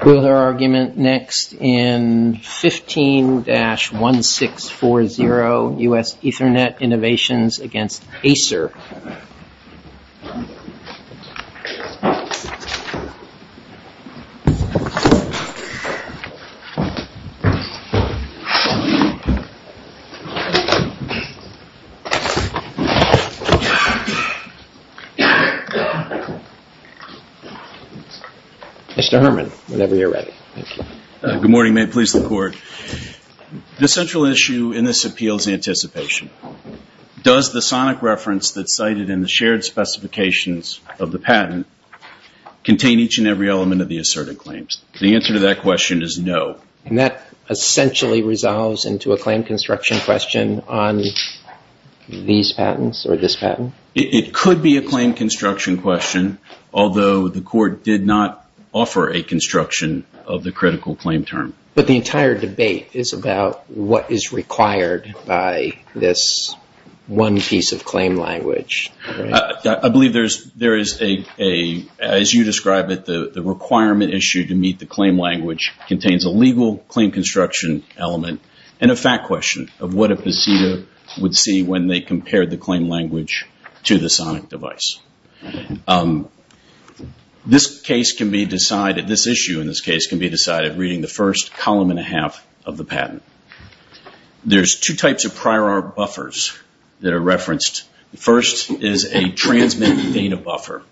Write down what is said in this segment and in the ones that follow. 15-1640 U.S. Ethernet Innovations v. Acer 15-1640 U.S. Ethernet Innovations v. Acer, Inc. 15-1640 U.S. Ethernet Innovations v. Acer, Inc. This issue in this case can be decided reading the first column and a half of the patent. There's two types of prior art buffers that are referenced. The first is a transmit data buffer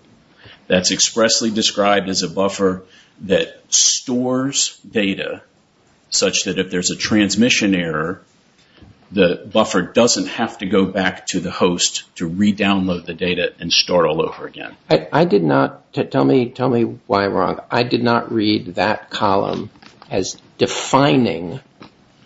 that's expressly described as a buffer that stores data such that if there's a transmission error, the buffer doesn't have to go back to the host to re-download the data and start all over again. Tell me why I'm wrong. I did not read that column as defining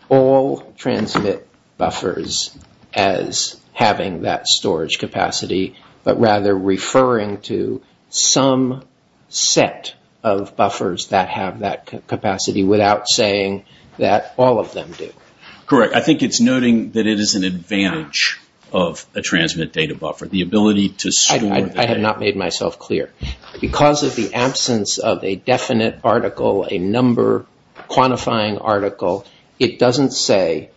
all transmit buffers as having that storage capacity, but rather referring to some set of buffers that have that capacity without saying that all of them do. Correct. I think it's noting that it is an advantage of a transmit data buffer. I have not made myself clear. Because of the absence of a definite article, a number quantifying article, it doesn't say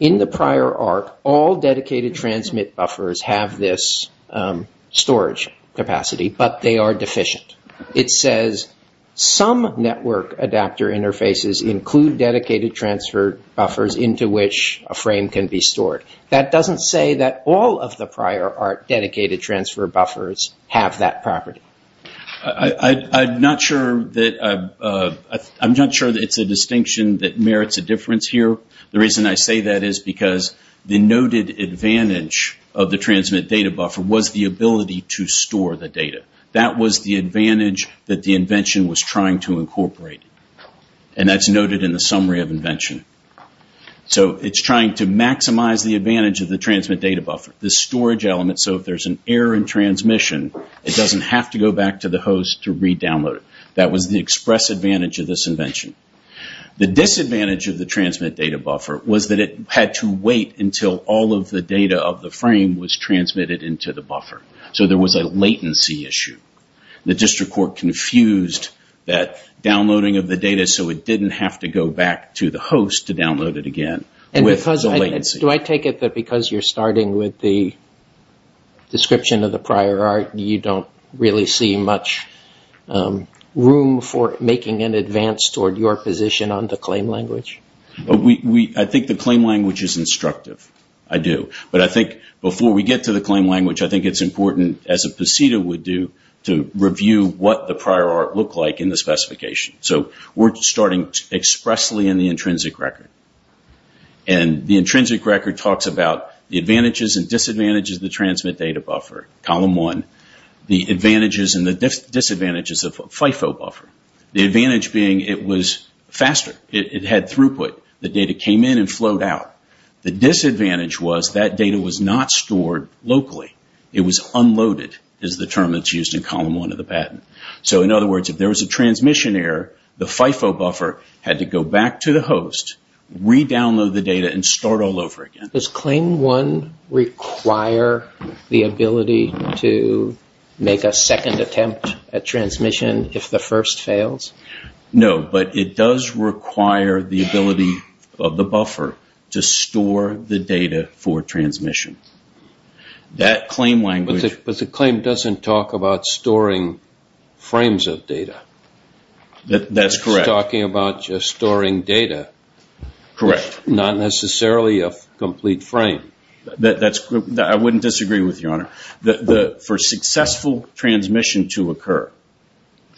in the prior art all dedicated transmit buffers have this storage capacity, but they are deficient. It says some network adapter interfaces include dedicated transfer buffers into which a frame can be stored. That doesn't say that all of the prior art dedicated transfer buffers have that property. I'm not sure that it's a distinction that merits a difference here. The reason I say that is because the noted advantage of the transmit data buffer was the ability to store the data. That was the advantage that the invention was trying to incorporate. That's noted in the summary of invention. It's trying to maximize the advantage of the transmit data buffer, the storage element, so if there's an error in transmission, it doesn't have to go back to the host to redownload it. That was the express advantage of this invention. The disadvantage of the transmit data buffer was that it had to wait until all of the data of the frame was transmitted into the buffer. There was a latency issue. The district court confused that downloading of the data so it didn't have to go back to the host to download it again. Do I take it that because you're starting with the description of the prior art, you don't really see much room for making an advance toward your position on the claim language? I think the claim language is instructive. I do. But I think before we get to the claim language, I think it's important, as a PCETA would do, to review what the prior art looked like in the specification. We're starting expressly in the intrinsic record. The intrinsic record talks about the advantages and disadvantages of the transmit data buffer, column one. The advantages and disadvantages of FIFO buffer. The advantage being it was faster. It had throughput. The data came in and flowed out. The disadvantage was that data was not stored locally. It was unloaded is the term that's used in column one of the patent. In other words, if there was a transmission error, the FIFO buffer had to go back to the host, redownload the data, and start all over again. Does claim one require the ability to make a second attempt at transmission if the first fails? No, but it does require the ability of the buffer to store the data for transmission. But the claim doesn't talk about storing frames of data. That's correct. It's talking about storing data. Not necessarily a complete frame. For successful transmission to occur,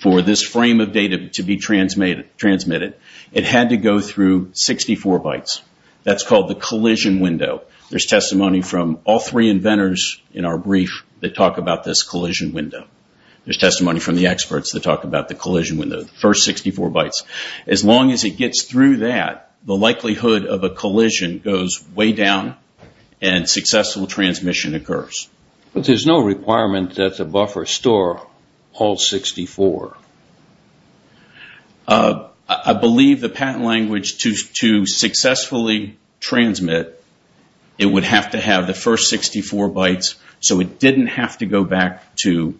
for this frame of data to be transmitted, it had to go through 64 bytes. That's called the collision window. There's testimony from all three inventors in our brief that talk about this collision window. There's testimony from the experts that talk about the collision window, the first 64 bytes. As long as it gets through that, the likelihood of a collision goes way down and successful transmission occurs. There's no requirement that the buffer store all 64. I believe the patent language to successfully transmit, it would have to have the first 64 bytes so it didn't have to go back to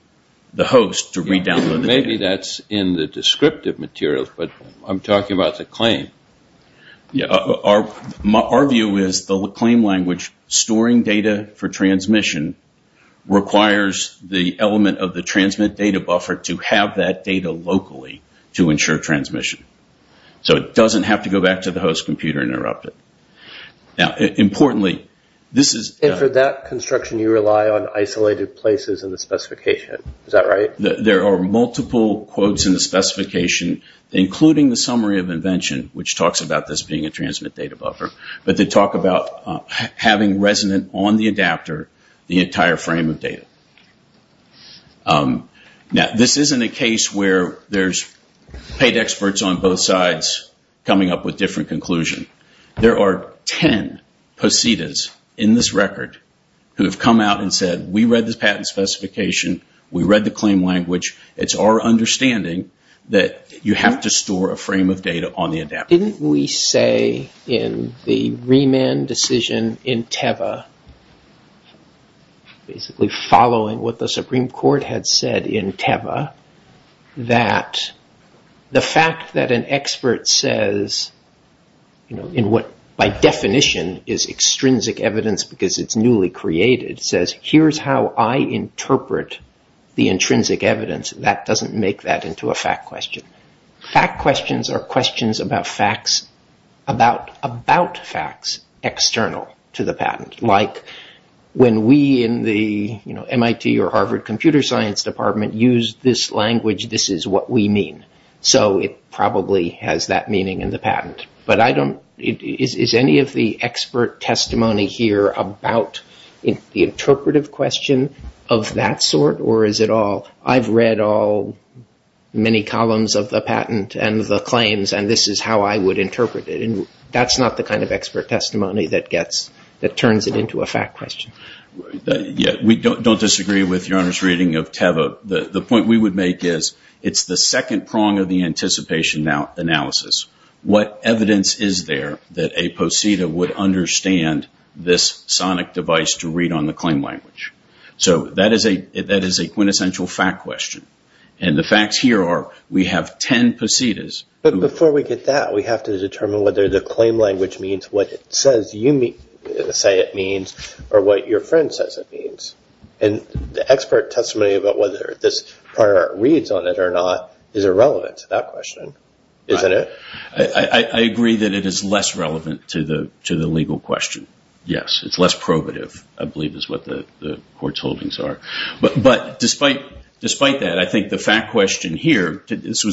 the host to redownload the data. Maybe that's in the descriptive materials, but I'm talking about the claim. Our view is the claim language storing data for transmission requires the element of the transmit data buffer to have that data locally to ensure transmission. So it doesn't have to go back to the host computer and interrupt it. For that construction, you rely on isolated places in the specification. There are multiple quotes in the specification, including the summary of invention, which talks about this being a transmit data buffer. But they talk about having resonant on the adapter the entire frame of data. This isn't a case where there's paid experts on both sides coming up with different conclusions. There are 10 positas in this record who have come out and said, we read this patent specification. We read the claim language. It's our understanding that you have to store a frame of data on the adapter. Didn't we say in the remand decision in Teva, basically following what the Supreme Court had said in Teva, that the fact that an expert says in what by definition is extrinsic evidence because it's newly created, it says here's how I interpret the intrinsic evidence, that doesn't make that into a fact question. Fact questions are questions about facts external to the patent. Like when we in the MIT or Harvard computer science department use this language, this is what we mean. So it probably has that meaning in the patent. But is any of the expert testimony here about the interpretive question of that sort or is it all, I've read all many columns of the patent and the claims and this is how I would interpret it. That's not the kind of expert testimony that turns it into a fact question. We don't disagree with Your Honor's reading of Teva. The point we would make is it's the second prong of the anticipation analysis. What evidence is there that a poseda would understand this sonic device to read on the claim language? So that is a quintessential fact question. And the facts here are we have 10 posedas. But before we get that, we have to determine whether the claim language means what it says you say it means or what your friend says it means. And the expert testimony about whether this part reads on it or not is irrelevant to that question, isn't it? I agree that it is less relevant to the legal question. Yes, it's less probative I believe is what the court's holdings are. But despite that, I think the fact question here, this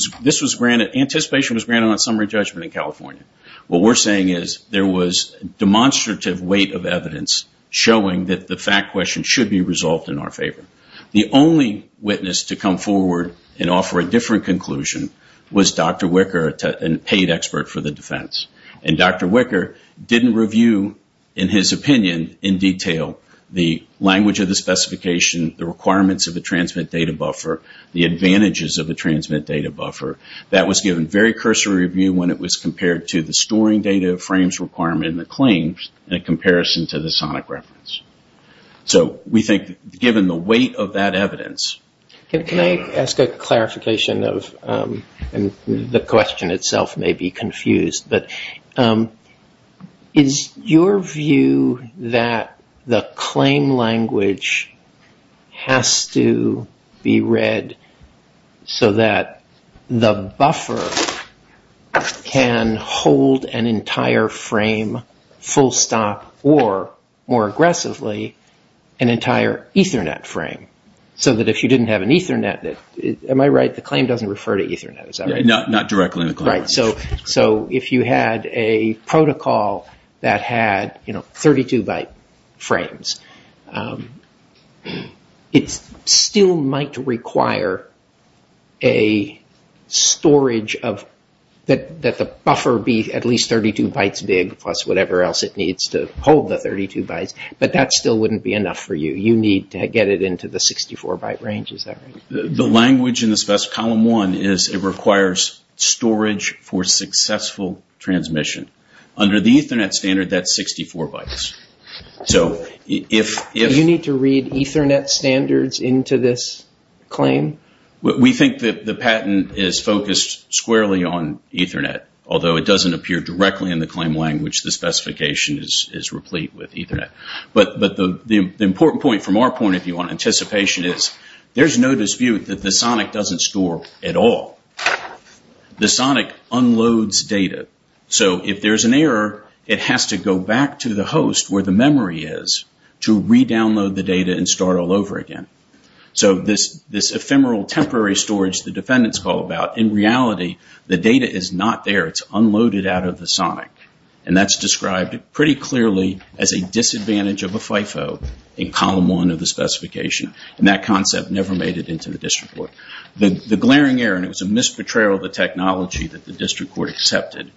was granted, anticipation was granted on summary judgment in California. What we're saying is there was demonstrative weight of evidence showing that the fact question should be resolved in our favor. The only witness to come forward and offer a different conclusion was Dr. Wicker, a paid expert for the defense. And Dr. Wicker didn't review in his opinion in detail the language of the specification, the requirements of the transmit data buffer, the advantages of the transmit data buffer. That was given very cursory review when it was compared to the storing data frames requirement in the claims in comparison to the sonic reference. So we think given the weight of that evidence... Can I ask a clarification of, and the question itself may be confused, but is your view that the claim language has to be read so that the buffer can hold an entire frame, full stop, or more aggressively, an entire Ethernet frame? So that if you didn't have an Ethernet, am I right, the claim doesn't refer to Ethernet, is that right? Not directly in the claim language. So if you had a protocol that had 32 byte frames, it still might require a storage of, that the buffer be at least 32 bytes big plus whatever else it needs to hold the 32 bytes, but that still wouldn't be enough for you. You need to get it into the 64 byte range, is that right? The language in column one is it requires storage for successful transmission. Under the Ethernet standard, that's 64 bytes. You need to read Ethernet standards into this claim? We think that the patent is focused squarely on Ethernet, although it doesn't appear directly in the claim language, the specification is replete with Ethernet. But the important point from our point of view on anticipation is, there's no dispute that the sonic doesn't store at all. The sonic unloads data. So if there's an error, it has to go back to the host where the memory is to redownload the data and start all over again. So this ephemeral temporary storage the defendants call about, in reality, the data is not there. It's unloaded out of the sonic. And that's described pretty clearly as a disadvantage of a FIFO in column one of the specification. And that concept never made it into the district court. The glaring error, and it was a misportrayal of the technology that the district court accepted,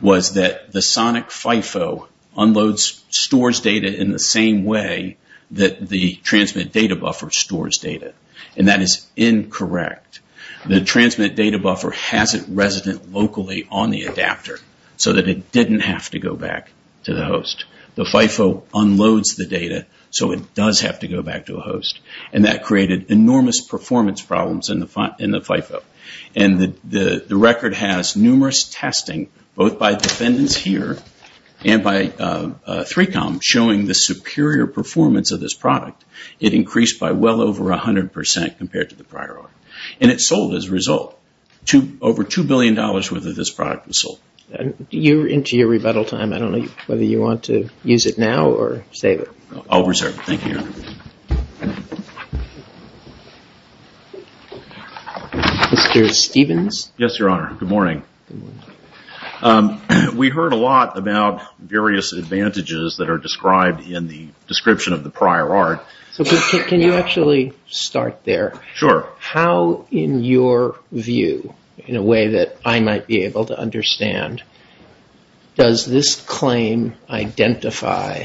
was that the sonic FIFO unloads, stores data in the same way that the transmit data buffer stores data. And that is incorrect. The transmit data buffer hasn't resident locally on the adapter so that it didn't have to go back to the host. The FIFO unloads the data so it does have to go back to a host. And that created enormous performance problems in the FIFO. And the record has numerous testing, both by defendants here and by 3Com, showing the superior performance of this product. It increased by well over 100 percent compared to the prior order. And it sold as a result, over $2 billion worth of this product was sold. Into your rebuttal time, I don't know whether you want to use it now or save it. I'll reserve it. Thank you, Your Honor. Mr. Stevens? Yes, Your Honor. Good morning. We heard a lot about various advantages that are described in the description of the prior art. Can you actually start there? Sure. How in your view, in a way that I might be able to understand, does this claim identify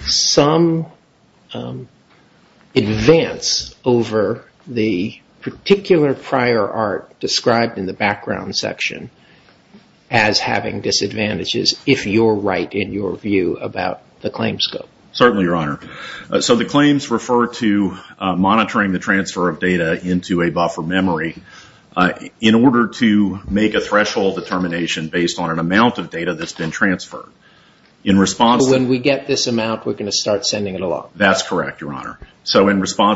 some advance over the particular prior art described in the background section? As having disadvantages, if you're right in your view about the claim scope? Certainly, Your Honor. So the claims refer to monitoring the transfer of data into a buffer memory in order to make a threshold determination based on an amount of data that's been transferred. When we get this amount, we're going to start sending it along? That's correct, Your Honor. That's why they call them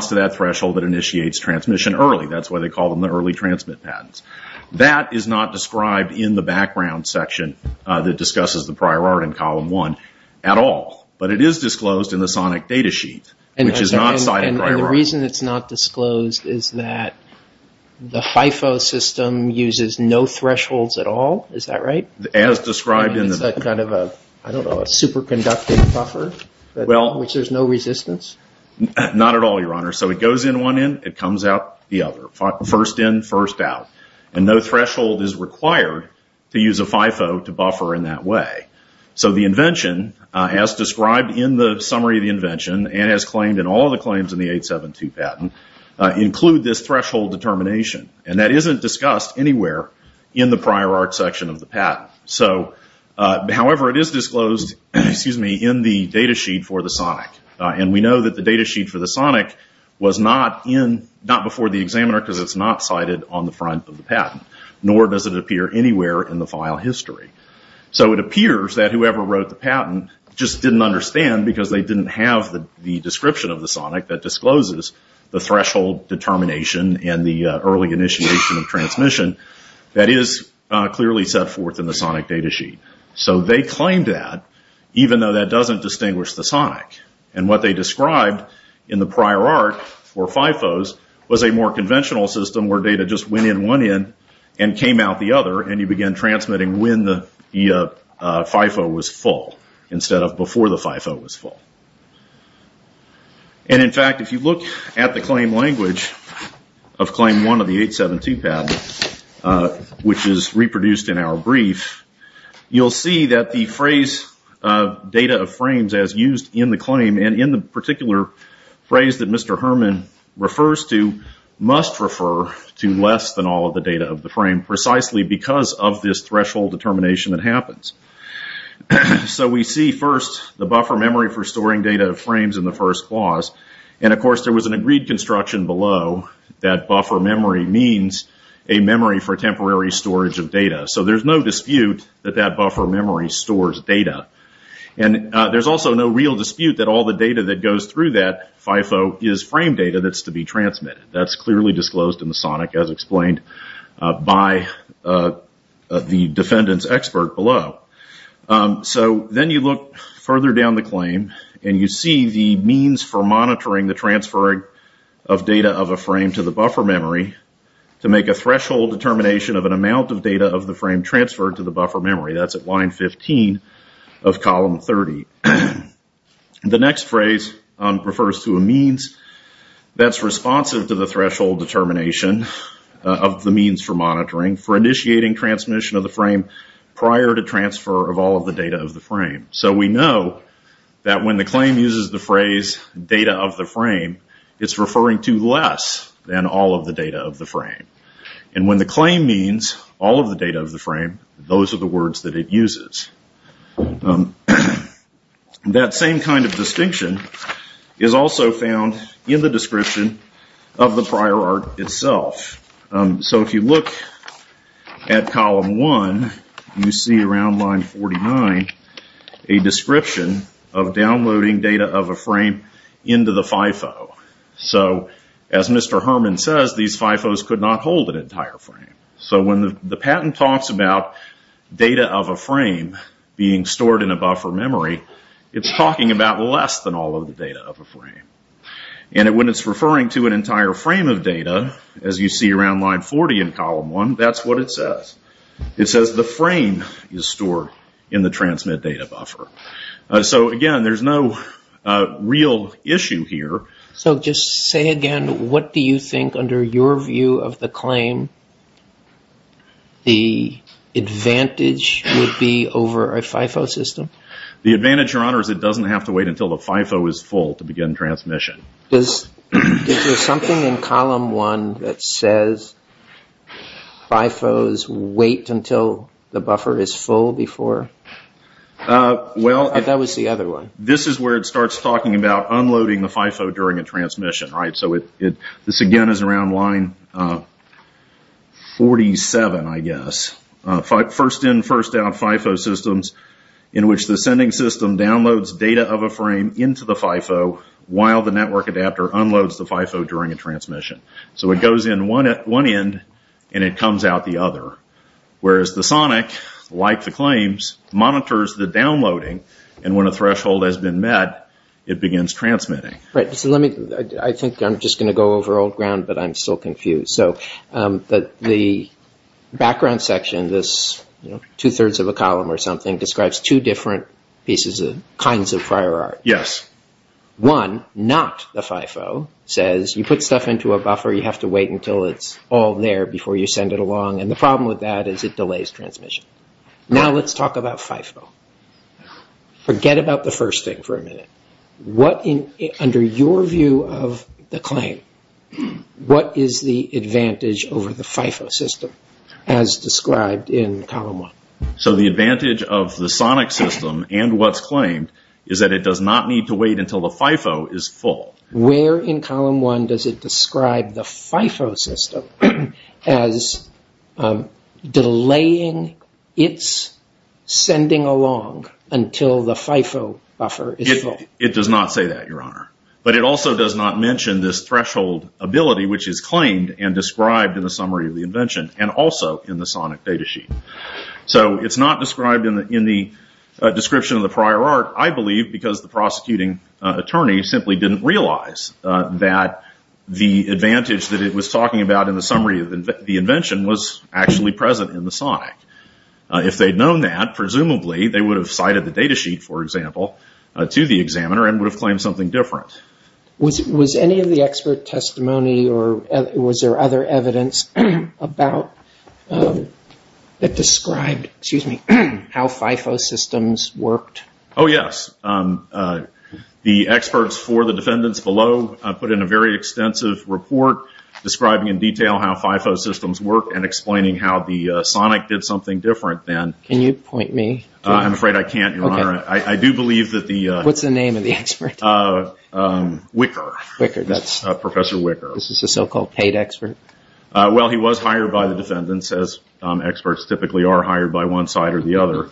the early transmit patents. That is not described in the background section that discusses the prior art in column one at all. But it is disclosed in the sonic data sheet, which is not cited prior art. And the reason it's not disclosed is that the FIFO system uses no thresholds at all? Is that right? Not at all, Your Honor. So it goes in one end, it comes out the other. First in, first out. And no threshold is required to use a FIFO to buffer in that way. So the invention, as described in the summary of the invention, and as claimed in all the claims in the 872 patent, include this threshold determination. And that isn't discussed anywhere in the prior art section of the patent. However, it is disclosed in the data sheet for the sonic. And we know that the data sheet for the sonic was not before the examiner because it's not cited on the front of the patent. Nor does it appear anywhere in the file history. So it appears that whoever wrote the patent just didn't understand because they didn't have the description of the sonic that discloses the threshold determination and the early initiation of transmission that is clearly set forth in the sonic data sheet. So they claimed that, even though that doesn't distinguish the sonic. And what they described in the prior art for FIFOs was a more conventional system where data just went in one end and came out the other. And you began transmitting when the FIFO was full instead of before the FIFO was full. And in fact, if you look at the claim language of claim one of the 872 patent, which is reproduced in our brief, you'll see that the phrase data of frames as used in the claim, and in the particular phrase that Mr. Herman refers to, must refer to less than all of the data of the frame precisely because of this threshold determination that happens. So we see first the buffer memory for storing data of frames in the first clause. And of course there was an agreed construction below that buffer memory means a memory for temporary storage of data. So there's no dispute that that buffer memory stores data. And there's also no real dispute that all the data that goes through that FIFO is frame data that's to be transmitted. That's clearly disclosed in the sonic as explained by the defendant's expert below. So then you look further down the claim, and you see the means for monitoring the transferring of data of a frame to the buffer memory to make a threshold determination of an amount of data of the frame transferred to the buffer memory. That's at line 15 of column 30. The next phrase refers to a means that's responsive to the threshold determination of the means for monitoring for initiating transmission of the frame prior to transfer of all of the data of the frame. So we know that when the claim uses the phrase data of the frame, it's referring to less than all of the data of the frame. And when the claim means all of the data of the frame, those are the words that it uses. That same kind of distinction is also found in the description of the prior art itself. So if you look at column one, you see around line 49 a description of downloading data of a frame into the FIFO. So as Mr. Herman says, these FIFOs could not hold an entire frame. So when the patent talks about data of a frame being stored in a buffer memory, it's talking about less than all of the data of a frame. And when it's referring to an entire frame of data, as you see around line 40 in column one, that's what it says. It says the frame is stored in the transmit data buffer. So again, there's no real issue here. So just say again, what do you think under your view of the claim the advantage would be over a FIFO system? The advantage, Your Honor, is it doesn't have to wait until the FIFO is full to begin transmission. Is there something in column one that says FIFOs wait until the buffer is full before? That was the other one. This is where it starts talking about unloading the FIFO during a transmission. This again is around line 47, I guess. First in, first out FIFO systems in which the sending system downloads data of a frame into the FIFO while the network adapter unloads the FIFO during a transmission. So it goes in one end and it comes out the other. Whereas the SONIC, like the claims, monitors the downloading and when a threshold has been met, it begins transmitting. I think I'm just going to go over old ground, but I'm still confused. The background section, this two-thirds of a column or something, describes two different kinds of prior art. One, not the FIFO, says you put stuff into a buffer, you have to wait until it's all there before you send it along. The problem with that is it delays transmission. Now let's talk about FIFO. Forget about the first thing for a minute. Under your view of the claim, what is the advantage over the FIFO system as described in column one? So the advantage of the SONIC system and what's claimed is that it does not need to wait until the FIFO is full. Where in column one does it describe the FIFO system as delaying its sending along until the FIFO buffer is full? It does not say that, Your Honor. But it also does not mention this threshold ability which is claimed and described in the summary of the invention and also in the SONIC data sheet. So it's not described in the description of the prior art, I believe, because the prosecuting attorney simply didn't realize that the advantage that it was talking about in the summary of the invention was actually present in the SONIC. If they'd known that, presumably they would have cited the data sheet, for example, to the examiner and would have claimed something different. Was there other evidence that described how FIFO systems worked? Oh, yes. The experts for the defendants below put in a very extensive report describing in detail how FIFO systems work and explaining how the SONIC did something different then. Can you point me? What's the name of the expert? Wicker. Well, he was hired by the defendants, as experts typically are hired by one side or the other.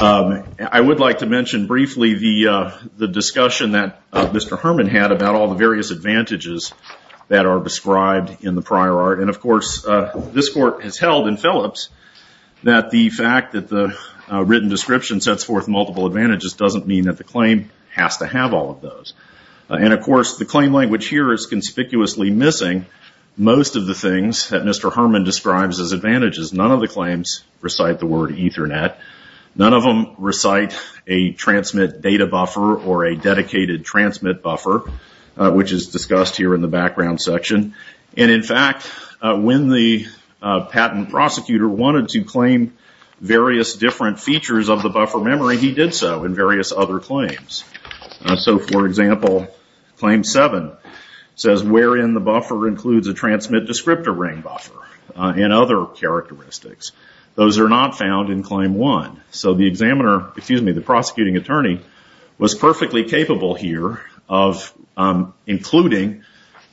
I would like to mention briefly the discussion that Mr. Herman had about all the various advantages that are described in the prior art. And, of course, this court has held in Phillips that the fact that the written description sets forth multiple advantages doesn't mean that the claim has to have all of those. And, of course, the claim language here is conspicuously missing most of the things that Mr. Herman describes as advantages. None of the claims recite the word Ethernet. None of them recite a transmit data buffer or a dedicated transmit buffer, which is discussed here in the background section. And, in fact, when the patent prosecutor wanted to claim various different features of the buffer memory, he did so in various other claims. So, for example, Claim 7 says wherein the buffer includes a transmit descriptor and other characteristics. Those are not found in Claim 1. So the prosecutor was perfectly capable here of including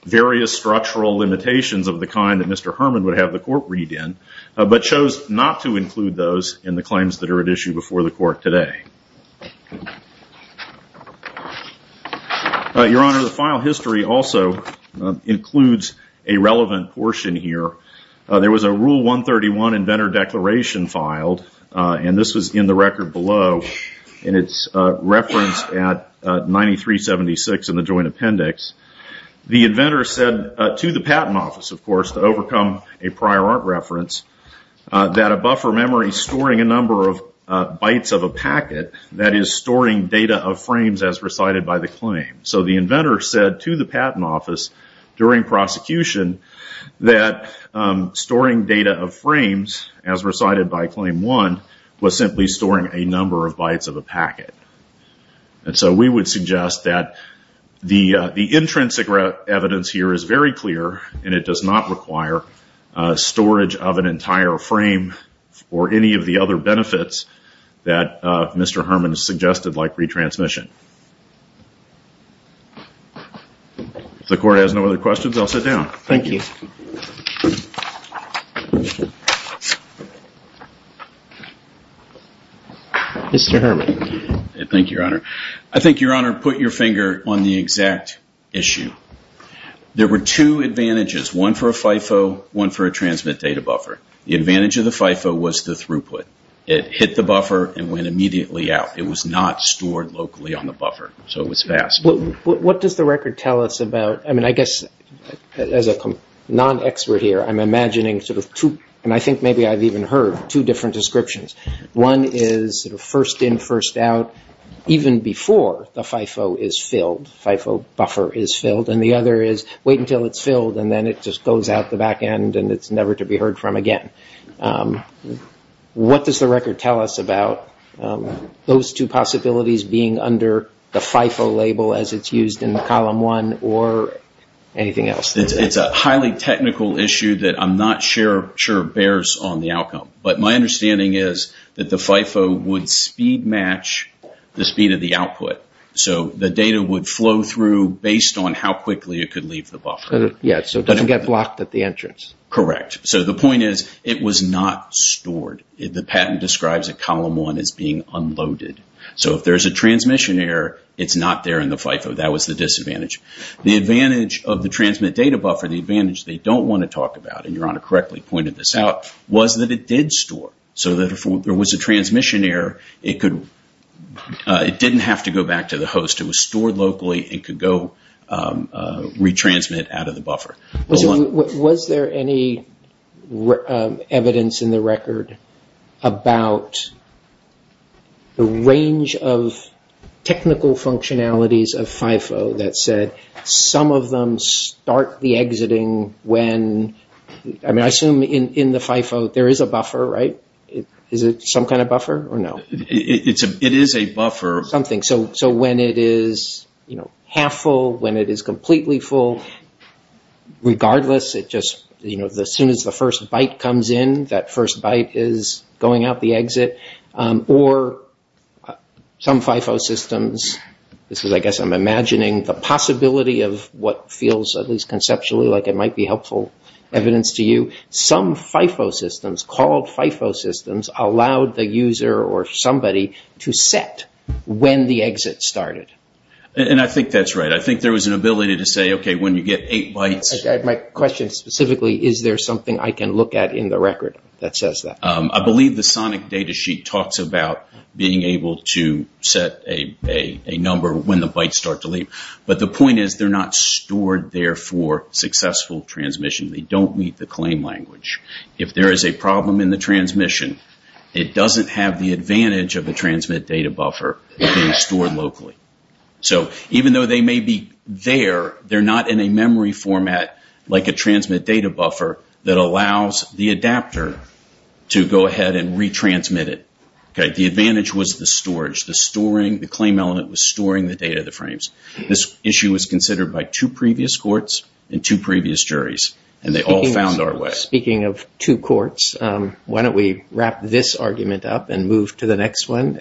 various structural limitations of the kind that Mr. Herman would have the court read in, but chose not to include those in the claims that are at issue before the court today. Your Honor, the file history also includes a relevant portion here. There was a Rule 131 inventor declaration filed, and this was in the record below, and it's referenced at 9376 in the joint appendix. The inventor said to the patent office, of course, to overcome a prior art reference, that a buffer memory storing a number of bytes of a packet that is storing data of frames as recited by the claim. So the inventor said to the patent office during prosecution that storing data of frames as recited by Claim 1 was simply storing a number of bytes of a packet. And so we would suggest that the intrinsic evidence here is very clear, and it does not require storage of an entire frame or any of the other benefits that Mr. Herman suggested like retransmission. If the court has no other questions, I'll sit down. Thank you. Thank you, Your Honor. I think, Your Honor, put your finger on the exact issue. There were two advantages, one for a FIFO, one for a transmit data buffer. The advantage of the FIFO was the throughput. It hit the buffer and went immediately out. It was not stored locally on the buffer, so it was fast. What does the record tell us about, I mean, I guess as a non-expert here, I'm imagining sort of two, and I think maybe I've even heard, two different descriptions. One is first in, first out, even before the FIFO is filled, FIFO buffer is filled, and the other is wait until it's filled and then it just goes out the back end and it's never to be heard from again. What does the record tell us about those two possibilities being under the FIFO label as it's used in Column 1 or anything else? It's a highly technical issue that I'm not sure bears on the outcome, but my understanding is that the FIFO would speed match the speed of the output, so the data would flow through based on how quickly it could leave the buffer. So it doesn't get blocked at the entrance? Correct. So the point is, it was not stored. The patent describes a Column 1 as being unloaded, so if there's a transmission error, it's not there in the FIFO. That was the disadvantage. The advantage of the transmit data buffer, the advantage they don't want to talk about, and Your Honor correctly pointed this out, was that it did store. So if there was a transmission error, it didn't have to go back to the host, it was stored locally, it could go retransmit out of the buffer. Was there any evidence in the record about the range of technical functionalities of FIFO that said some of them start the exiting when, I assume in the FIFO there is a buffer, right? Is it some kind of buffer or no? It is a buffer. So when it is half full, when it is completely full, regardless, as soon as the first byte comes in, that first byte is going out the exit, or some FIFO systems, I guess I'm imagining the possibility of what feels, at least conceptually, like it might be helpful evidence to you. Some FIFO systems, called FIFO systems, allowed the user or somebody to set when the exit started. And I think that's right. I think there was an ability to say, okay, when you get 8 bytes... My question specifically, is there something I can look at in the record that says that? I believe the sonic data sheet talks about being able to set a number when the bytes start to leave. But the point is, they're not stored there for successful transmission. They don't meet the claim language. If there is a problem in the transmission, it doesn't have the advantage of a transmit data buffer being stored locally. So even though they may be there, they're not in a memory format like a transmit data buffer that allows the adapter to go ahead and retransmit it. The advantage was the storage, the storing, the claim element was storing the data, the frames. This issue was considered by two previous courts and two previous juries. And they all found our way. Speaking of two courts, why don't we wrap this argument up and move to the next one.